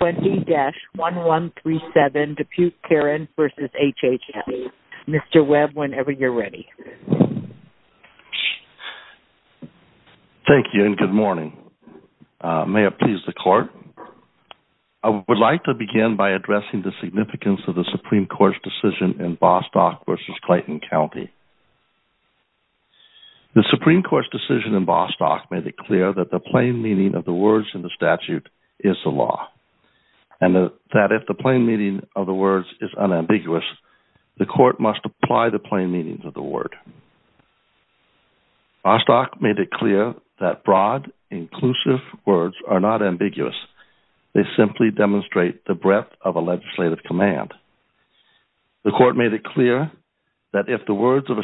20-1137 Dupuch-Carron v. HHS. Mr. Webb, whenever you're ready. Thank you and good morning. May it please the Court. I would like to begin by addressing the significance of the Supreme Court's decision in Bostock v. Clayton County. The Supreme Court's decision in Bostock made it clear that the plain meaning of the words in the statute is the law, and that if the plain meaning of the words is unambiguous, the Court must apply the plain meanings of the word. Bostock made it clear that broad, inclusive words are not ambiguous. They simply demonstrate the breadth of a legislative command. The Court made it clear that if the words of a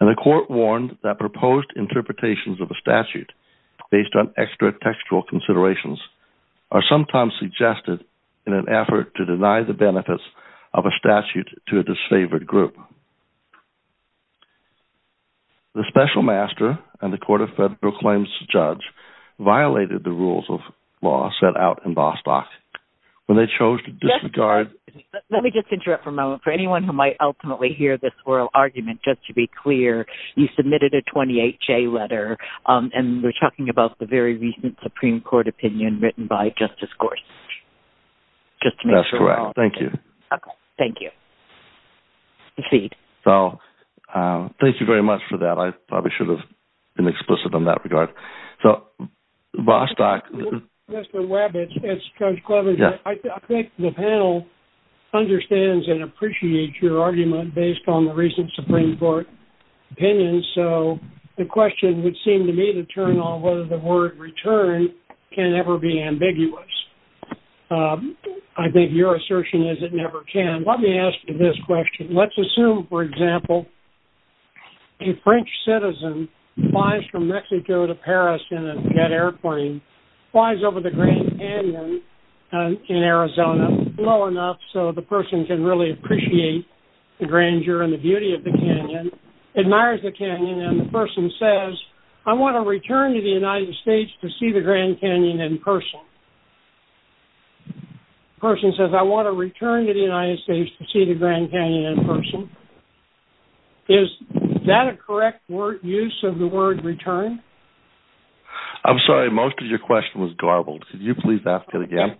And the Court warned that proposed interpretations of a statute based on extra-textual considerations are sometimes suggested in an effort to deny the benefits of a statute to a disfavored group. The Special Master and the Court of Federal Claims judge violated the rules of law set out in Bostock when they chose to disregard... Let me just interrupt for a moment. For anyone who might ultimately hear this oral argument, just to be clear, you submitted a 28-J letter, and we're talking about the very recent Supreme Court opinion written by Justice Gorsuch. That's correct. Thank you. Thank you. Proceed. So, thank you very much for that. I probably should have been explicit in that regard. So, Bostock... Mr. Webb, it's Judge Cleaver. I think the panel understands and appreciates your argument based on the recent Supreme Court opinion. So, the question would seem to me to turn on whether the word return can ever be ambiguous. I think your assertion is it never can. Let me ask you this question. Let's assume, for example, a French citizen flies from Mexico to Paris in a jet airplane, flies over the Grand Canyon in Arizona low enough so the person can really appreciate the grandeur and the beauty of the canyon, admires the canyon, and the person says, I want to return to the United States to see the Grand Canyon in person. The person says, I want to return to the United States to see the Grand Canyon in person. Is that a correct use of the word return? I'm sorry. Most of your question was garbled. Could you please ask it again?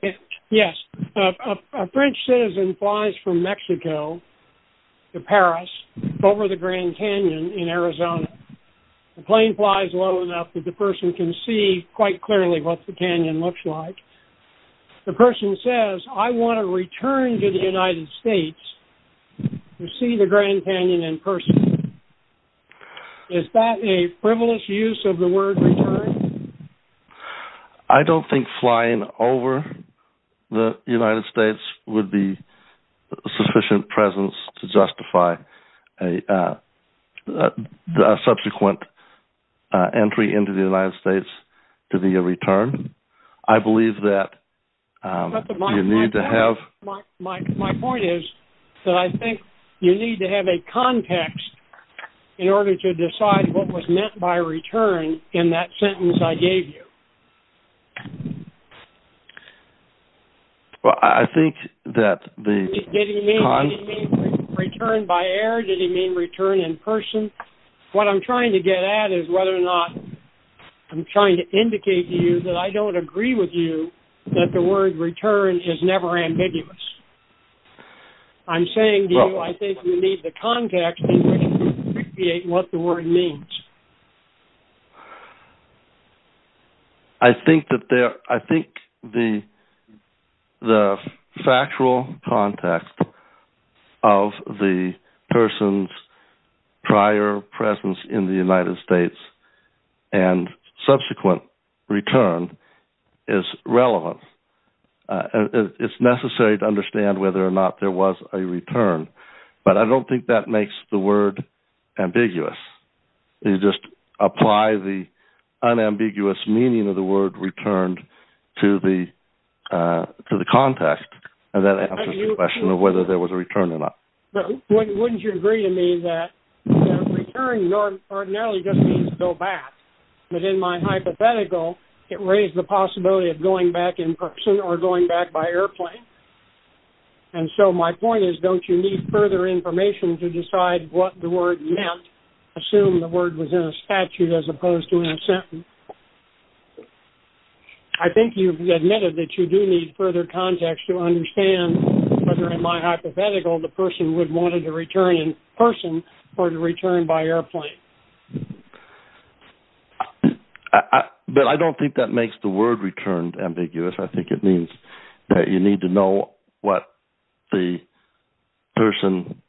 Yes. A French citizen flies from Mexico to Paris over the Grand Canyon in Arizona. The plane flies low enough that the person can see quite clearly what the canyon looks like. The person says, I want to return to the United States to see the Grand Canyon in person. Is that a frivolous use of the word return? I don't think flying over the United States would be a sufficient presence to justify a subsequent entry into the United States to be a return. I believe that you need to have... My point is that I think you need to have a context in order to decide what was meant by return in that sentence I gave you. Did he mean return by air? Did he mean return in person? What I'm trying to get at is whether or not I'm trying to indicate to you that I don't agree with you that the word return is never ambiguous. I'm saying to you I think you need the context in order to appreciate what the word means. I think the factual context of the person's prior presence in the United States and subsequent return is relevant. It's necessary to understand whether or not there was a return, but I don't think that makes the word ambiguous. You just apply the unambiguous meaning of the word returned to the context, and that answers the question of whether there was a return or not. Wouldn't you agree to me that return ordinarily just means go back, but in my hypothetical it raised the possibility of going back in person or going back by airplane? And so my further information to decide what the word meant, assume the word was in a statute as opposed to in a sentence, I think you've admitted that you do need further context to understand whether in my hypothetical the person would want to return in person or to return by airplane. But I don't think that makes the word returned ambiguous. I think it means that you need to know what the person,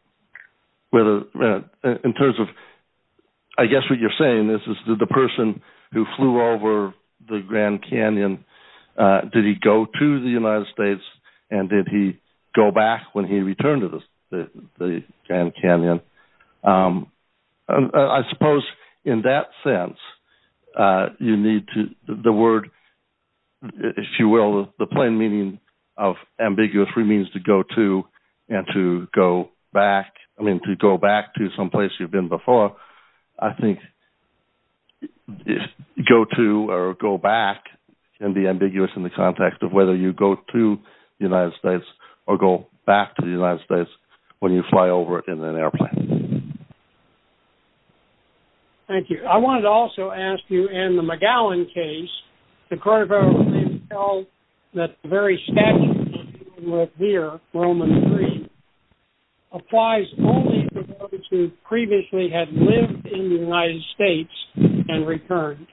in terms of, I guess what you're saying is that the person who flew over the Grand Canyon, did he go to the United States and did he go back when he returned to the ambiguous remains to go to and to go back, I mean to go back to some place you've been before, I think go to or go back can be ambiguous in the context of whether you go to the United States or go back to the United States when you fly over in an airplane. Yes. Thank you. I wanted to also ask you in the McGowan case, the court of federal release held that the very statute you're dealing with here, Roman III, applies only to those who previously had lived in the United States and returned.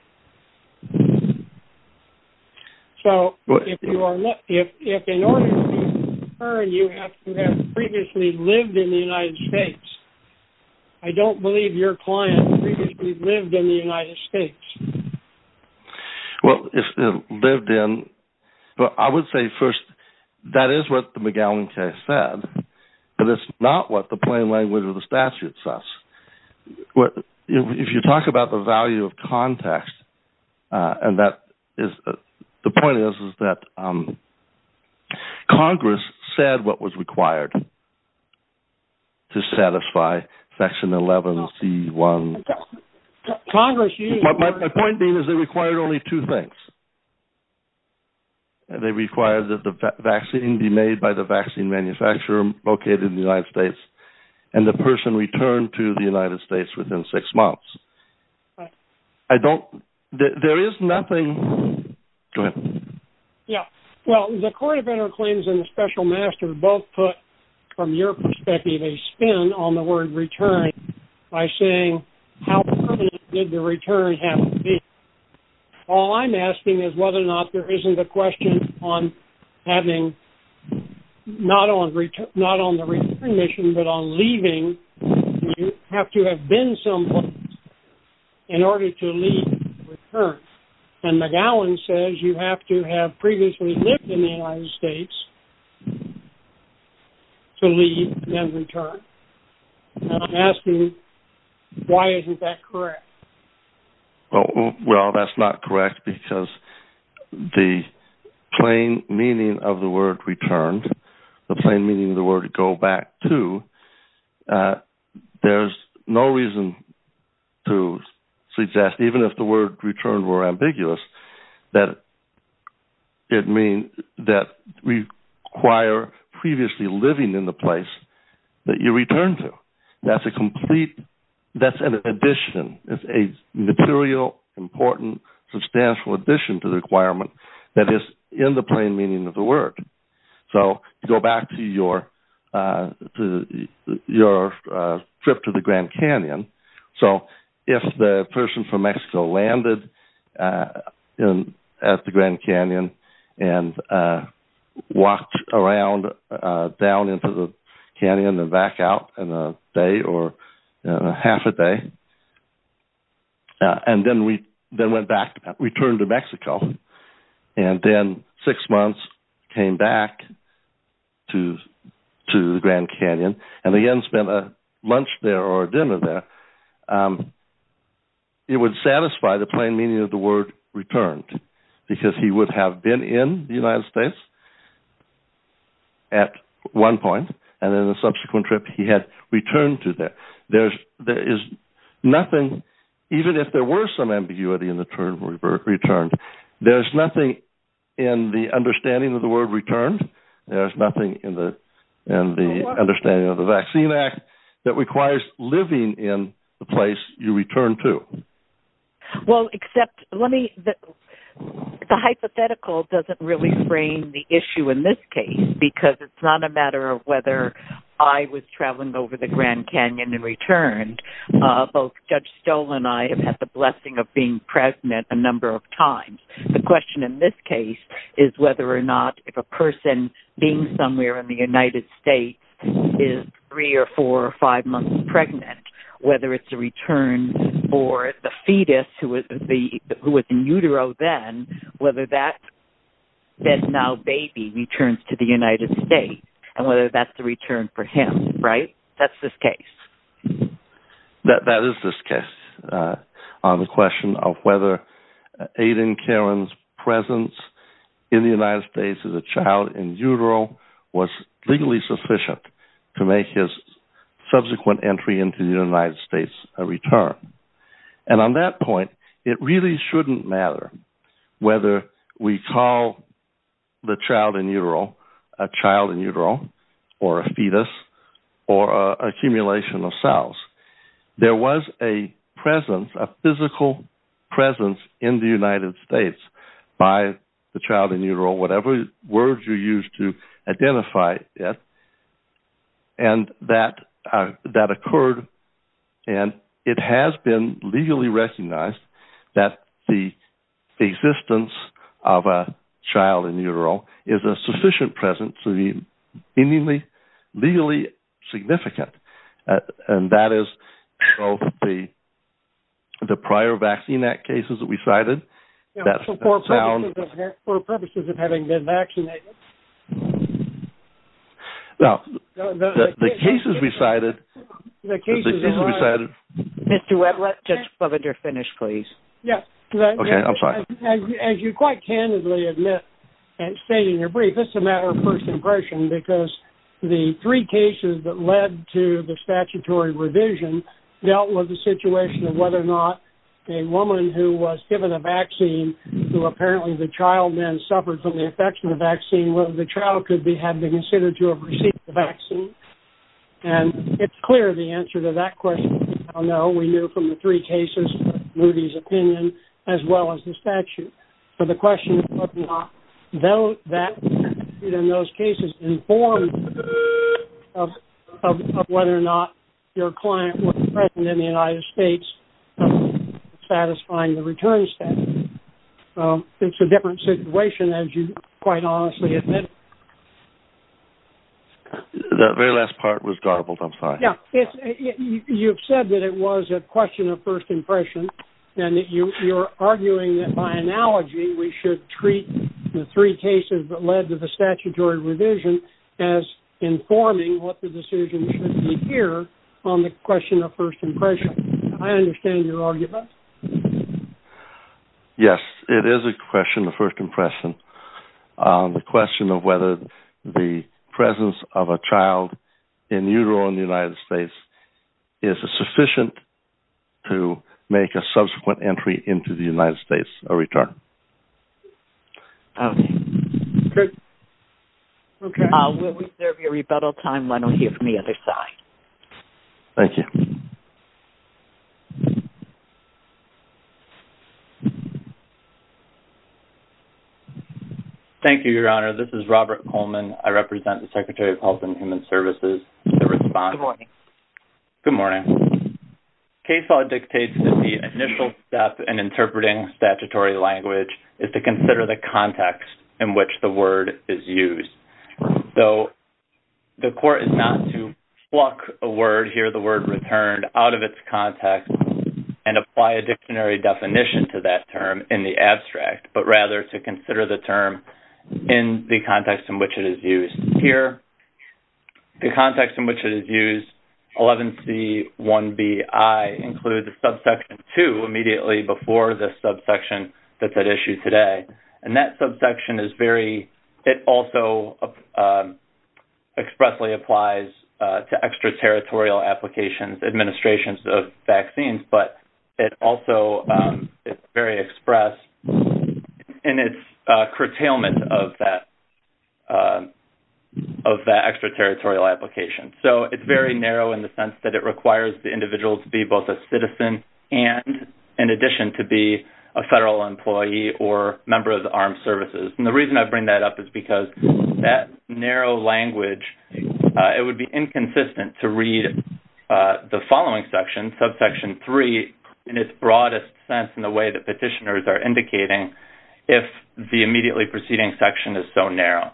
So if in order to return you have to have previously lived in the United States, I don't believe your client previously lived in the United States. Well, if lived in, I would say first that is what the McGowan case said, but it's not what the plain language of the statute says. If you talk about the value of context, and that is, the point is, is that Congress said what was required to satisfy Section 11C1. My point being is they required only two things. They required that the vaccine be made by the vaccine manufacturer located in the United States and the person returned to the United States within six months. I don't, there is nothing, go ahead. Well, the court of federal claims and the special master both put, from your perspective, a spin on the word return by saying how permanent did the return have to be. All I'm asking is whether or not there isn't a question on having, not on the return mission, but on leaving, you have to have been someplace in order to leave and return. And McGowan says you have to have previously lived in the United States to leave and return. And I'm asking why isn't that correct? Well, that's not correct because the plain meaning of the word returned, the plain meaning of the word go back to, there's no reason to suggest, even if the word returned were ambiguous, that it means that we require previously living in the place that you return to. That's a complete, that's an addition. It's a material, important, substantial addition to the requirement that is in the plain meaning of the word. So go back to your trip to the Grand Canyon. So if the person from Mexico landed at the Grand Canyon and walked around down into the canyon and back out in a day or half a day, and then went back, returned to Mexico, and then six months came back to the Grand Canyon and again spent a lunch there or a dinner there, it would satisfy the plain meaning of the word returned because he would have been in the United States at one point, and in a subsequent trip he had returned to there. There is nothing, even if there were some ambiguity in the term returned, there's nothing in the understanding of the word returned, there's nothing in the understanding of the Vaccine Act that requires living in the place you return to. Well, except, let me, the hypothetical doesn't really frame the issue in this case because it's not a matter of whether I was traveling over the Grand Canyon and returned. Both Judge Stoll and I have had the blessing of being pregnant a number of times. The question in this case is whether or not if a person being somewhere in the United States is three or four or five months pregnant, whether it's a return for the fetus who was in utero then, whether that now baby returns to the United States, and whether that's the return for him, right? That's this case. That is this case, on the question of whether Aiden Caron's presence in the United States as a child in utero was legally sufficient to make his subsequent entry into the United States a return. And on that point, it really shouldn't matter whether we call the child in utero a child in utero or a fetus or accumulation of cells. There was a presence, a physical presence in the United States by the child in utero, whatever words you use to identify it, and that occurred, and it has been legally recognized that the existence of a child in utero is a sufficient presence to be legally significant. And that is both the prior Vaccine Act cases that we cited. For purposes of having been vaccinated. Now, the cases we cited... The cases we cited... Mr. Webb, let Judge Fleminger finish, please. Okay, I'm sorry. As you quite candidly admit and state in your brief, it's a matter of first impression, because the three cases that led to the statutory revision dealt with the situation of whether or not a woman who was given a vaccine, who apparently the child then suffered from the infection of the vaccine, whether the child could have been considered to have received the vaccine. And it's clear the answer to that question, I know we knew from the three cases, Rudy's opinion, as well as the statute, for the question of whether or not those cases informed of whether or not your client was present in the United States, satisfying the return statute. It's a different situation, as you quite honestly admit. The very last part was garbled, I'm sorry. You've said that it was a question of first impression, and that you're arguing that by analogy, we should treat the three cases that led to the statutory revision as informing what the decision should be here on the question of first impression. I understand your argument. Yes, it is a question of first impression. The question of whether the presence of a child in utero in the United States is sufficient to make a subsequent entry into the United States a return. Okay. We'll reserve your rebuttal time, why don't we hear from the other side. Thank you. Thank you, Your Honor. This is Robert Coleman. I represent the Secretary of Health and Human Services. Good morning. Good morning. Case law dictates that the initial step in interpreting statutory language is to consider the context in which the word is used. So, the court is not to pluck a word, here the word returned, out of its context and apply a dictionary definition to that term in the abstract, but rather to consider the term in the context in which it is used. Here, the context in which it is used, 11C1BI, includes subsection 2, immediately before the subsection that's at issue today. And that subsection is very, it also expressly applies to extraterritorial applications, administrations of vaccines, but it also is very express in its curtailment of that, of that extraterritorial application. So, it's very narrow in the sense that it requires the individual to be both a citizen and in addition to be a federal employee or member of the armed services. And the reason I bring that up is because that narrow language, it would be inconsistent to read the following section, subsection 3, in its broadest sense in the way that petitioners are indicating, if the immediately preceding section is so narrow.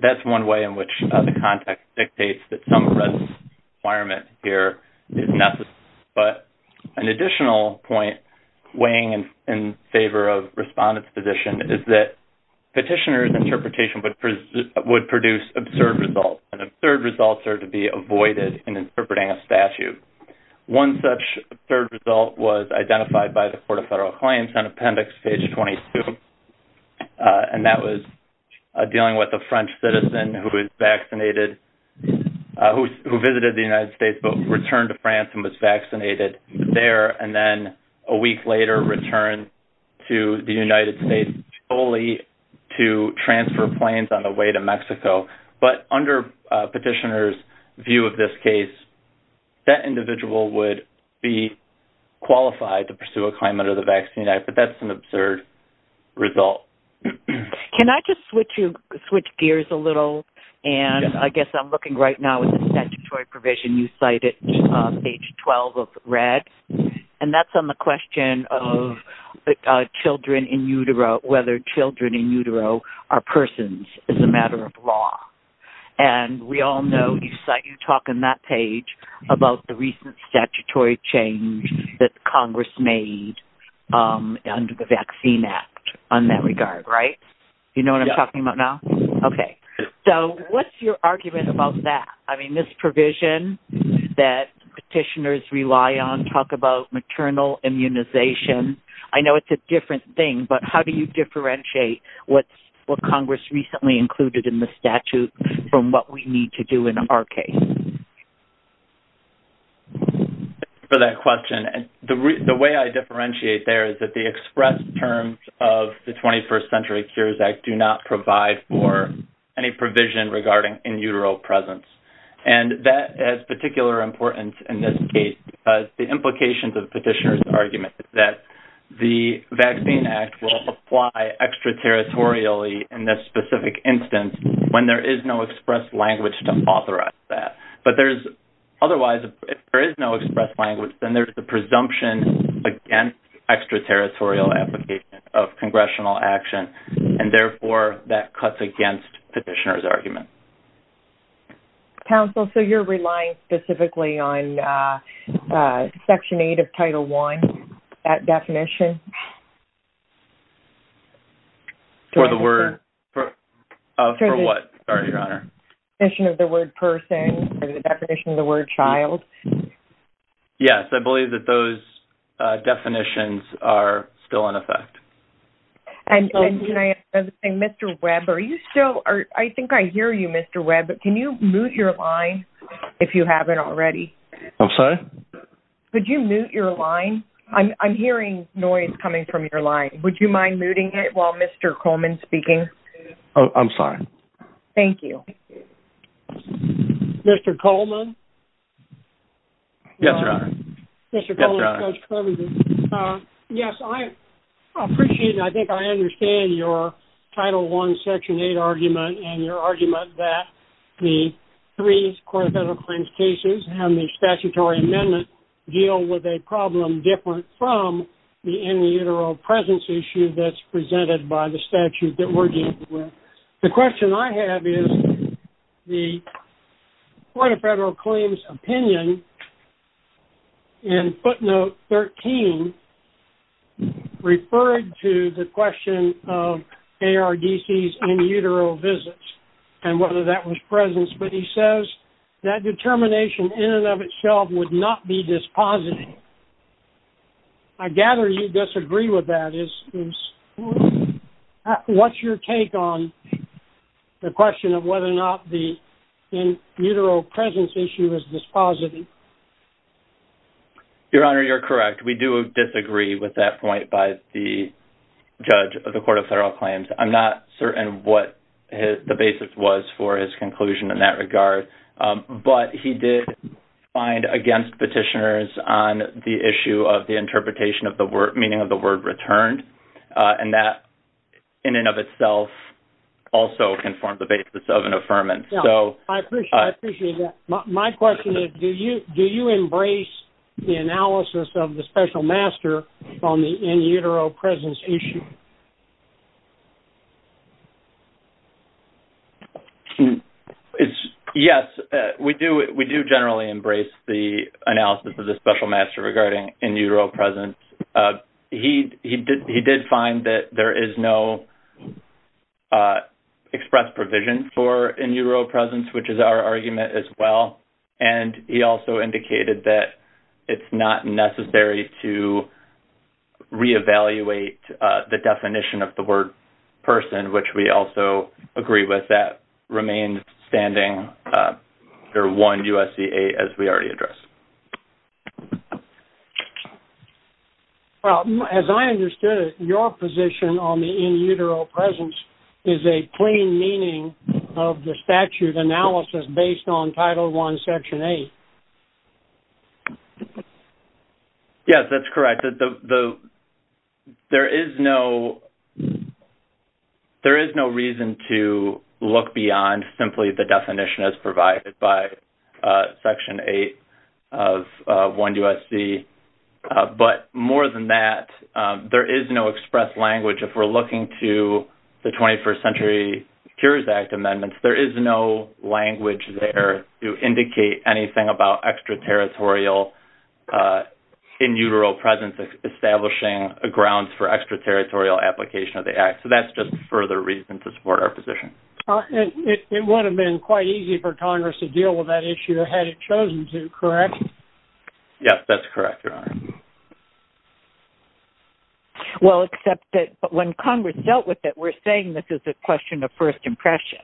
That's one way in which the context dictates that some requirement here is necessary. But an additional point, weighing in favor of respondents' position, is that petitioners' interpretation would produce absurd results, and absurd results are to be avoided in interpreting a statute. One such absurd result was identified by the Court of Federal Claims on appendix page 22, and that was dealing with a French citizen who was vaccinated, who visited the United States but returned to France and was vaccinated there, and then a week later returned to the United States solely to transfer planes on the way to Mexico. But under petitioners' view of this case, that individual would be qualified to pursue a claim under the Vaccine Act, but that's an absurd result. Can I just switch gears a little? And I guess I'm looking right now at the statutory provision you cited, page 12 of red, and that's on the question of children in utero, whether children in utero are persons as a matter of law. And we all know, you talk in that page, about the recent statutory change that Congress made under the Vaccine Act on that regard, right? You know what I'm talking about now? Okay, so what's your argument about that? I mean, this provision that petitioners rely on talk about maternal immunization. I know it's a different thing, but how do you differentiate what Congress recently included in the statute for that particular case? Thanks for that question. The way I differentiate there is that the express terms of the 21st Century Cures Act do not provide for any provision regarding in utero presence. And that is particularly important in this case because the implications of the petitioner's argument is that the Vaccine Act will apply extraterritorially in this specific instance when there is no express language to authorize that. But there's-otherwise, if there is no express language, then there's the presumption against extraterritorial application of congressional action, and therefore that cuts against petitioner's argument. Council, so you're relying specifically on Section 8 of Title I, that definition? For the word- For what? Sorry, Your Honor. The definition of the word person or the definition of the word child? Yes. I believe that those definitions are still in effect. And can I- Mr. Webb, are you still- I think I hear you, Mr. Webb. Can you mute your line if you haven't already? I'm sorry? Could you mute your line? I'm hearing noise coming from your line. Would you mind muting it while Mr. Coleman is speaking? Oh, I'm sorry. Thank you. Mr. Coleman? Yes, Your Honor. Mr. Coleman, Judge Kerman here. Yes, I appreciate and I think I understand your Title I, Section 8 argument and your argument that the three court of federal claims cases and the statutory amendment deal with a problem that is very different from the in-utero presence issue that's presented by the statute that we're dealing with. The question I have is the court of federal claims opinion in footnote 13 referred to the question of ARDC's in-utero visits and whether that was presence, but he says that determination in and of itself would not be dispositive. I gather you disagree with that. What's your take on the question of whether or not the in-utero presence issue is dispositive? Your Honor, you're correct. We do disagree with that point by the judge of the court of federal claims. I'm not certain what the basis was for his conclusion in that regard, but he did find against petitioners on the issue of the interpretation of the meaning of the word returned, and that in and of itself also informed the basis of an affirmance. I appreciate that. My question is, do you embrace the analysis of the special master on the in-utero presence issue? Yes. We do generally embrace the analysis of the special master regarding in-utero presence. He did find that there is no expressed provision for in-utero presence, which is our argument as well, that it's not necessary to re-evaluate the test and the definition of the word person, which we also agree with. That remains standing under 1 U.S.C.A. as we already addressed. As I understood it, your position on the in-utero presence is a plain meaning of the statute analysis based on Title I, Section 8. Yes, that's correct. There is no... There is no reason to look beyond simply the definition as provided by Section 8 of 1 U.S.C. But more than that, there is no expressed language. If we're looking to the 21st Century Secures Act amendments, there is no language there to indicate anything about extraterritorial in-utero presence establishing grounds for extraterritorial application of the Act. So that's just further reason to support our position. It would have been quite easy for Congress to deal with that issue had it chosen to, correct? Yes, that's correct, Your Honor. Well, except that when Congress dealt with it, we're saying this is a question of first impression.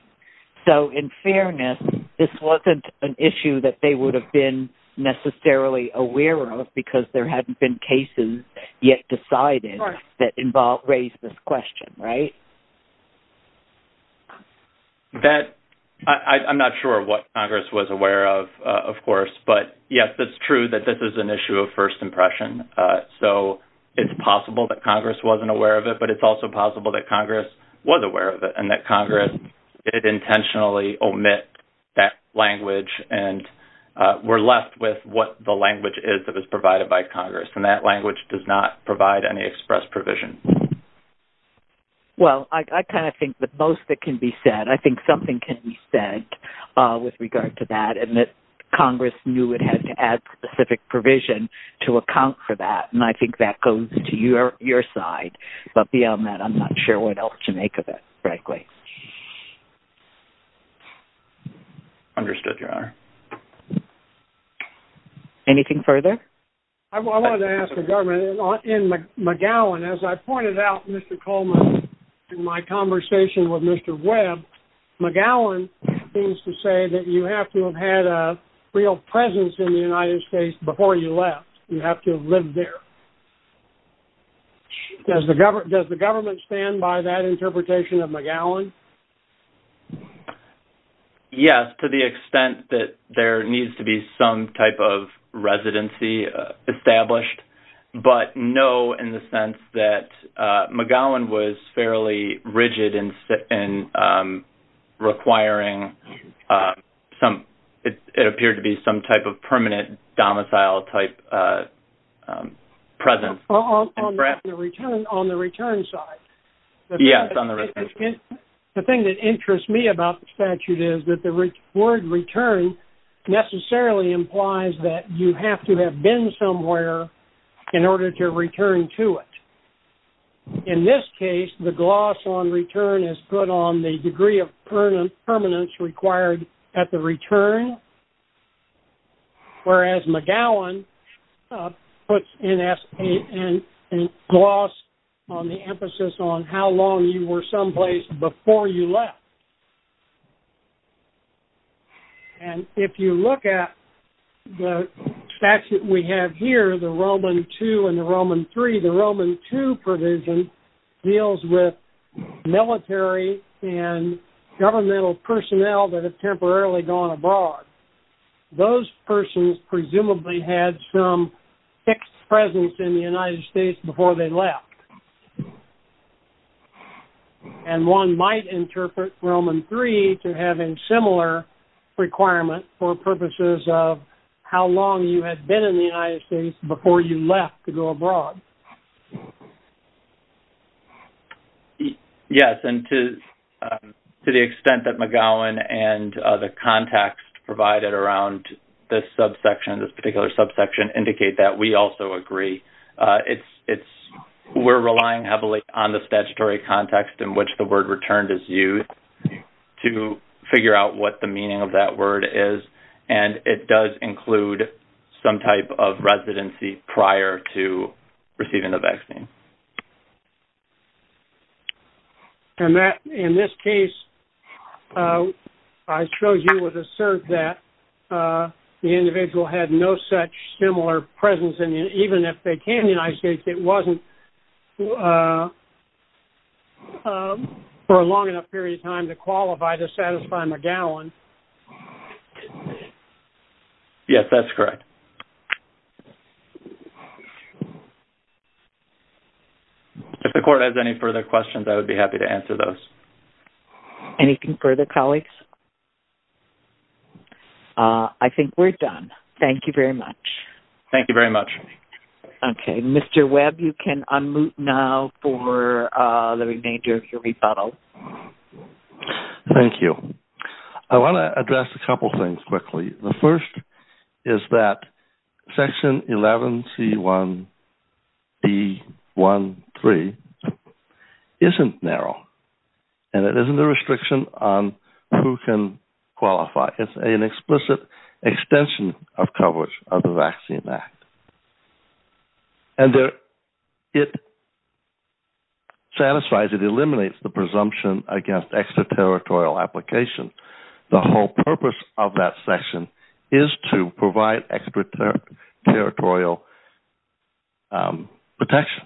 So in fairness, this wasn't an issue that they would have been necessarily aware of because there hadn't been cases yet decided that involved... raised this question, right? That... I'm not sure what Congress was aware of, of course. But, yes, it's true that this is an issue of first impression. So it's possible that Congress wasn't aware of it, but it's also possible that Congress was aware of it and that Congress intentionally omit that language and we're left with what the language is that was provided by Congress. And that language does not provide any express provision. Well, I kind of think that most of it can be said. I think something can be said with regard to that and that Congress knew it had to add specific provision to account for that. I'm not sure what else to make of that, frankly. Understood, Your Honor. Anything further? I wanted to ask the government. In McGowan, as I pointed out, Mr. Coleman, in my conversation with Mr. Webb, McGowan seems to say that you have to have had a real presence in the United States before you left. You have to have lived there. Does the government justify that interpretation of McGowan? Yes, to the extent that there needs to be some type of residency established, but no in the sense that McGowan was fairly rigid in requiring some-it appeared to be some type of permanent domicile-type presence. On the return side? Yes, on the return side. The thing that interests me about the statute is that the word return necessarily implies that you have to have been somewhere in order to return to it. In this case, the gloss on return is put on the degree of permanence required at the return, whereas McGowan puts a gloss on the emphasis on how long you were someplace before you left. And if you look at the statute we have here, the Roman II and the Roman III, the Roman II provision deals with military and governmental personnel that have temporarily gone abroad. Those persons presumably had some fixed presence in the United States before they left. And one might interpret Roman III to have a similar requirement for purposes of how long you had been in the United States before you left to go abroad. Yes, and to the extent that McGowan and the context provided around this subsection, this particular subsection, indicate that we also agree. We're relying heavily on the statutory context in which the word returned is used to figure out what the meaning of that word is, and it does include some type of residency prior to receiving the vaccine. And in this case, I showed you with a cert that the individual had no such similar presence, and even if they came to the United States, it wasn't for a long enough period of time to qualify to satisfy McGowan. Yes, that's correct. If the Court has any further questions, I would be happy to answer those. Any further colleagues? I think we're done. Thank you very much. Thank you very much. Okay. Mr. Webb, you can unmute now for the remainder of your rebuttal. Thank you. I want to address a couple of things quickly. The first is that Section 11C1B13 isn't narrow, and it isn't a restriction on who can qualify. It's an explicit extension of coverage of the Vaccine Act. And it satisfies, it eliminates the presumption against extraterritorial applications. The whole purpose of that section is to provide extraterritorial protection,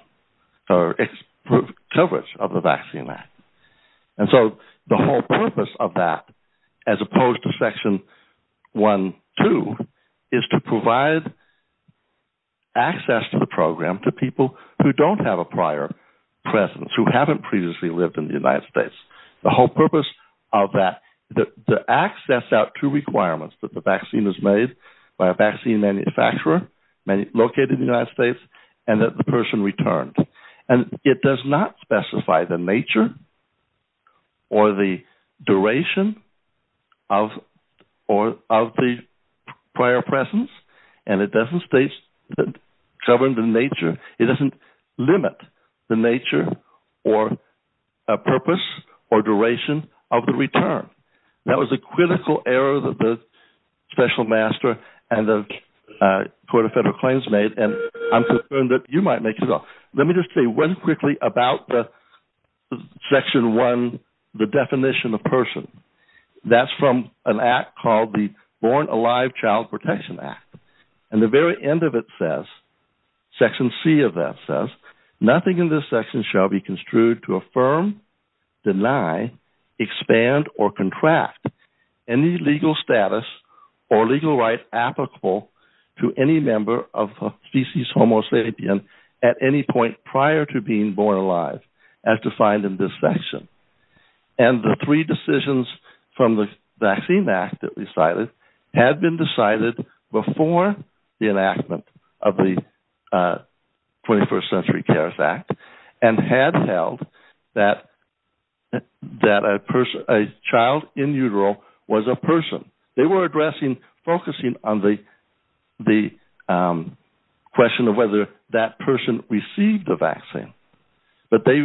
or coverage of the Vaccine Act. And so the whole purpose of that, as opposed to Section 1.2, is to provide access to the program to people who don't have a prior presence, who haven't previously lived in the United States. The whole purpose of that, the access out to requirements that the vaccine is made by a vaccine manufacturer located in the United States, and that the person returned. And it does not specify the nature or the duration of the prior presence. And it doesn't state, govern the nature, it doesn't limit the nature or purpose or duration of the return. That was a critical error that the Special Master and the Court of Federal Claims made, and I'm concerned that you might make it up. Let me just say one quickly about the Section 1, the Section 1, that's from an act called the Born Alive Child Protection Act. And the very end of it says, Section C of that says, nothing in this section shall be construed to affirm, deny, expand, or contract any legal status or legal right applicable to any member of a species homo sapien at any point prior to being born alive as defined in this section. And the three decisions from the Vaccine Act that we cited had been decided before the enactment of the 21st Century Cares Act and had held that a child in utero was a person. They were addressing, focusing on the question of whether that person received a vaccine. But they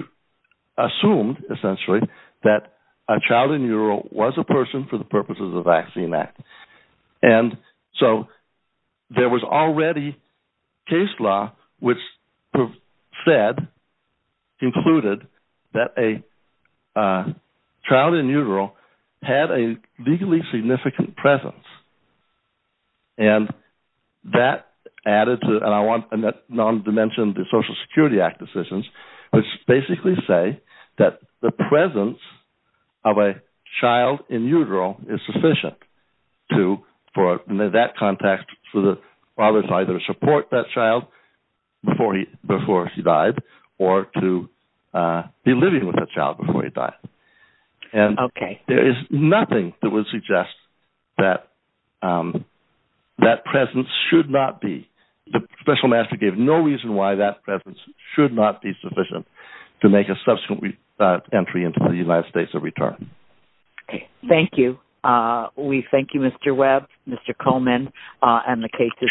assumed, essentially, that a child in utero was a person for the purpose of the Vaccine Act. And so there was already case law which said, concluded, that a child in utero had a legally significant presence. And that added to and I want a little detail on that. And that non-dimension the Social Security Act decisions which basically say that the presence of a child in utero is sufficient for that context for the father to either support that child before he died or to be able to utero. And they gave no reason why that presence should not be sufficient to make a subsequent entry into the United States of Return. Thank you. We thank you, Mr. Webb, Mr. Coleman, and the case is submitted.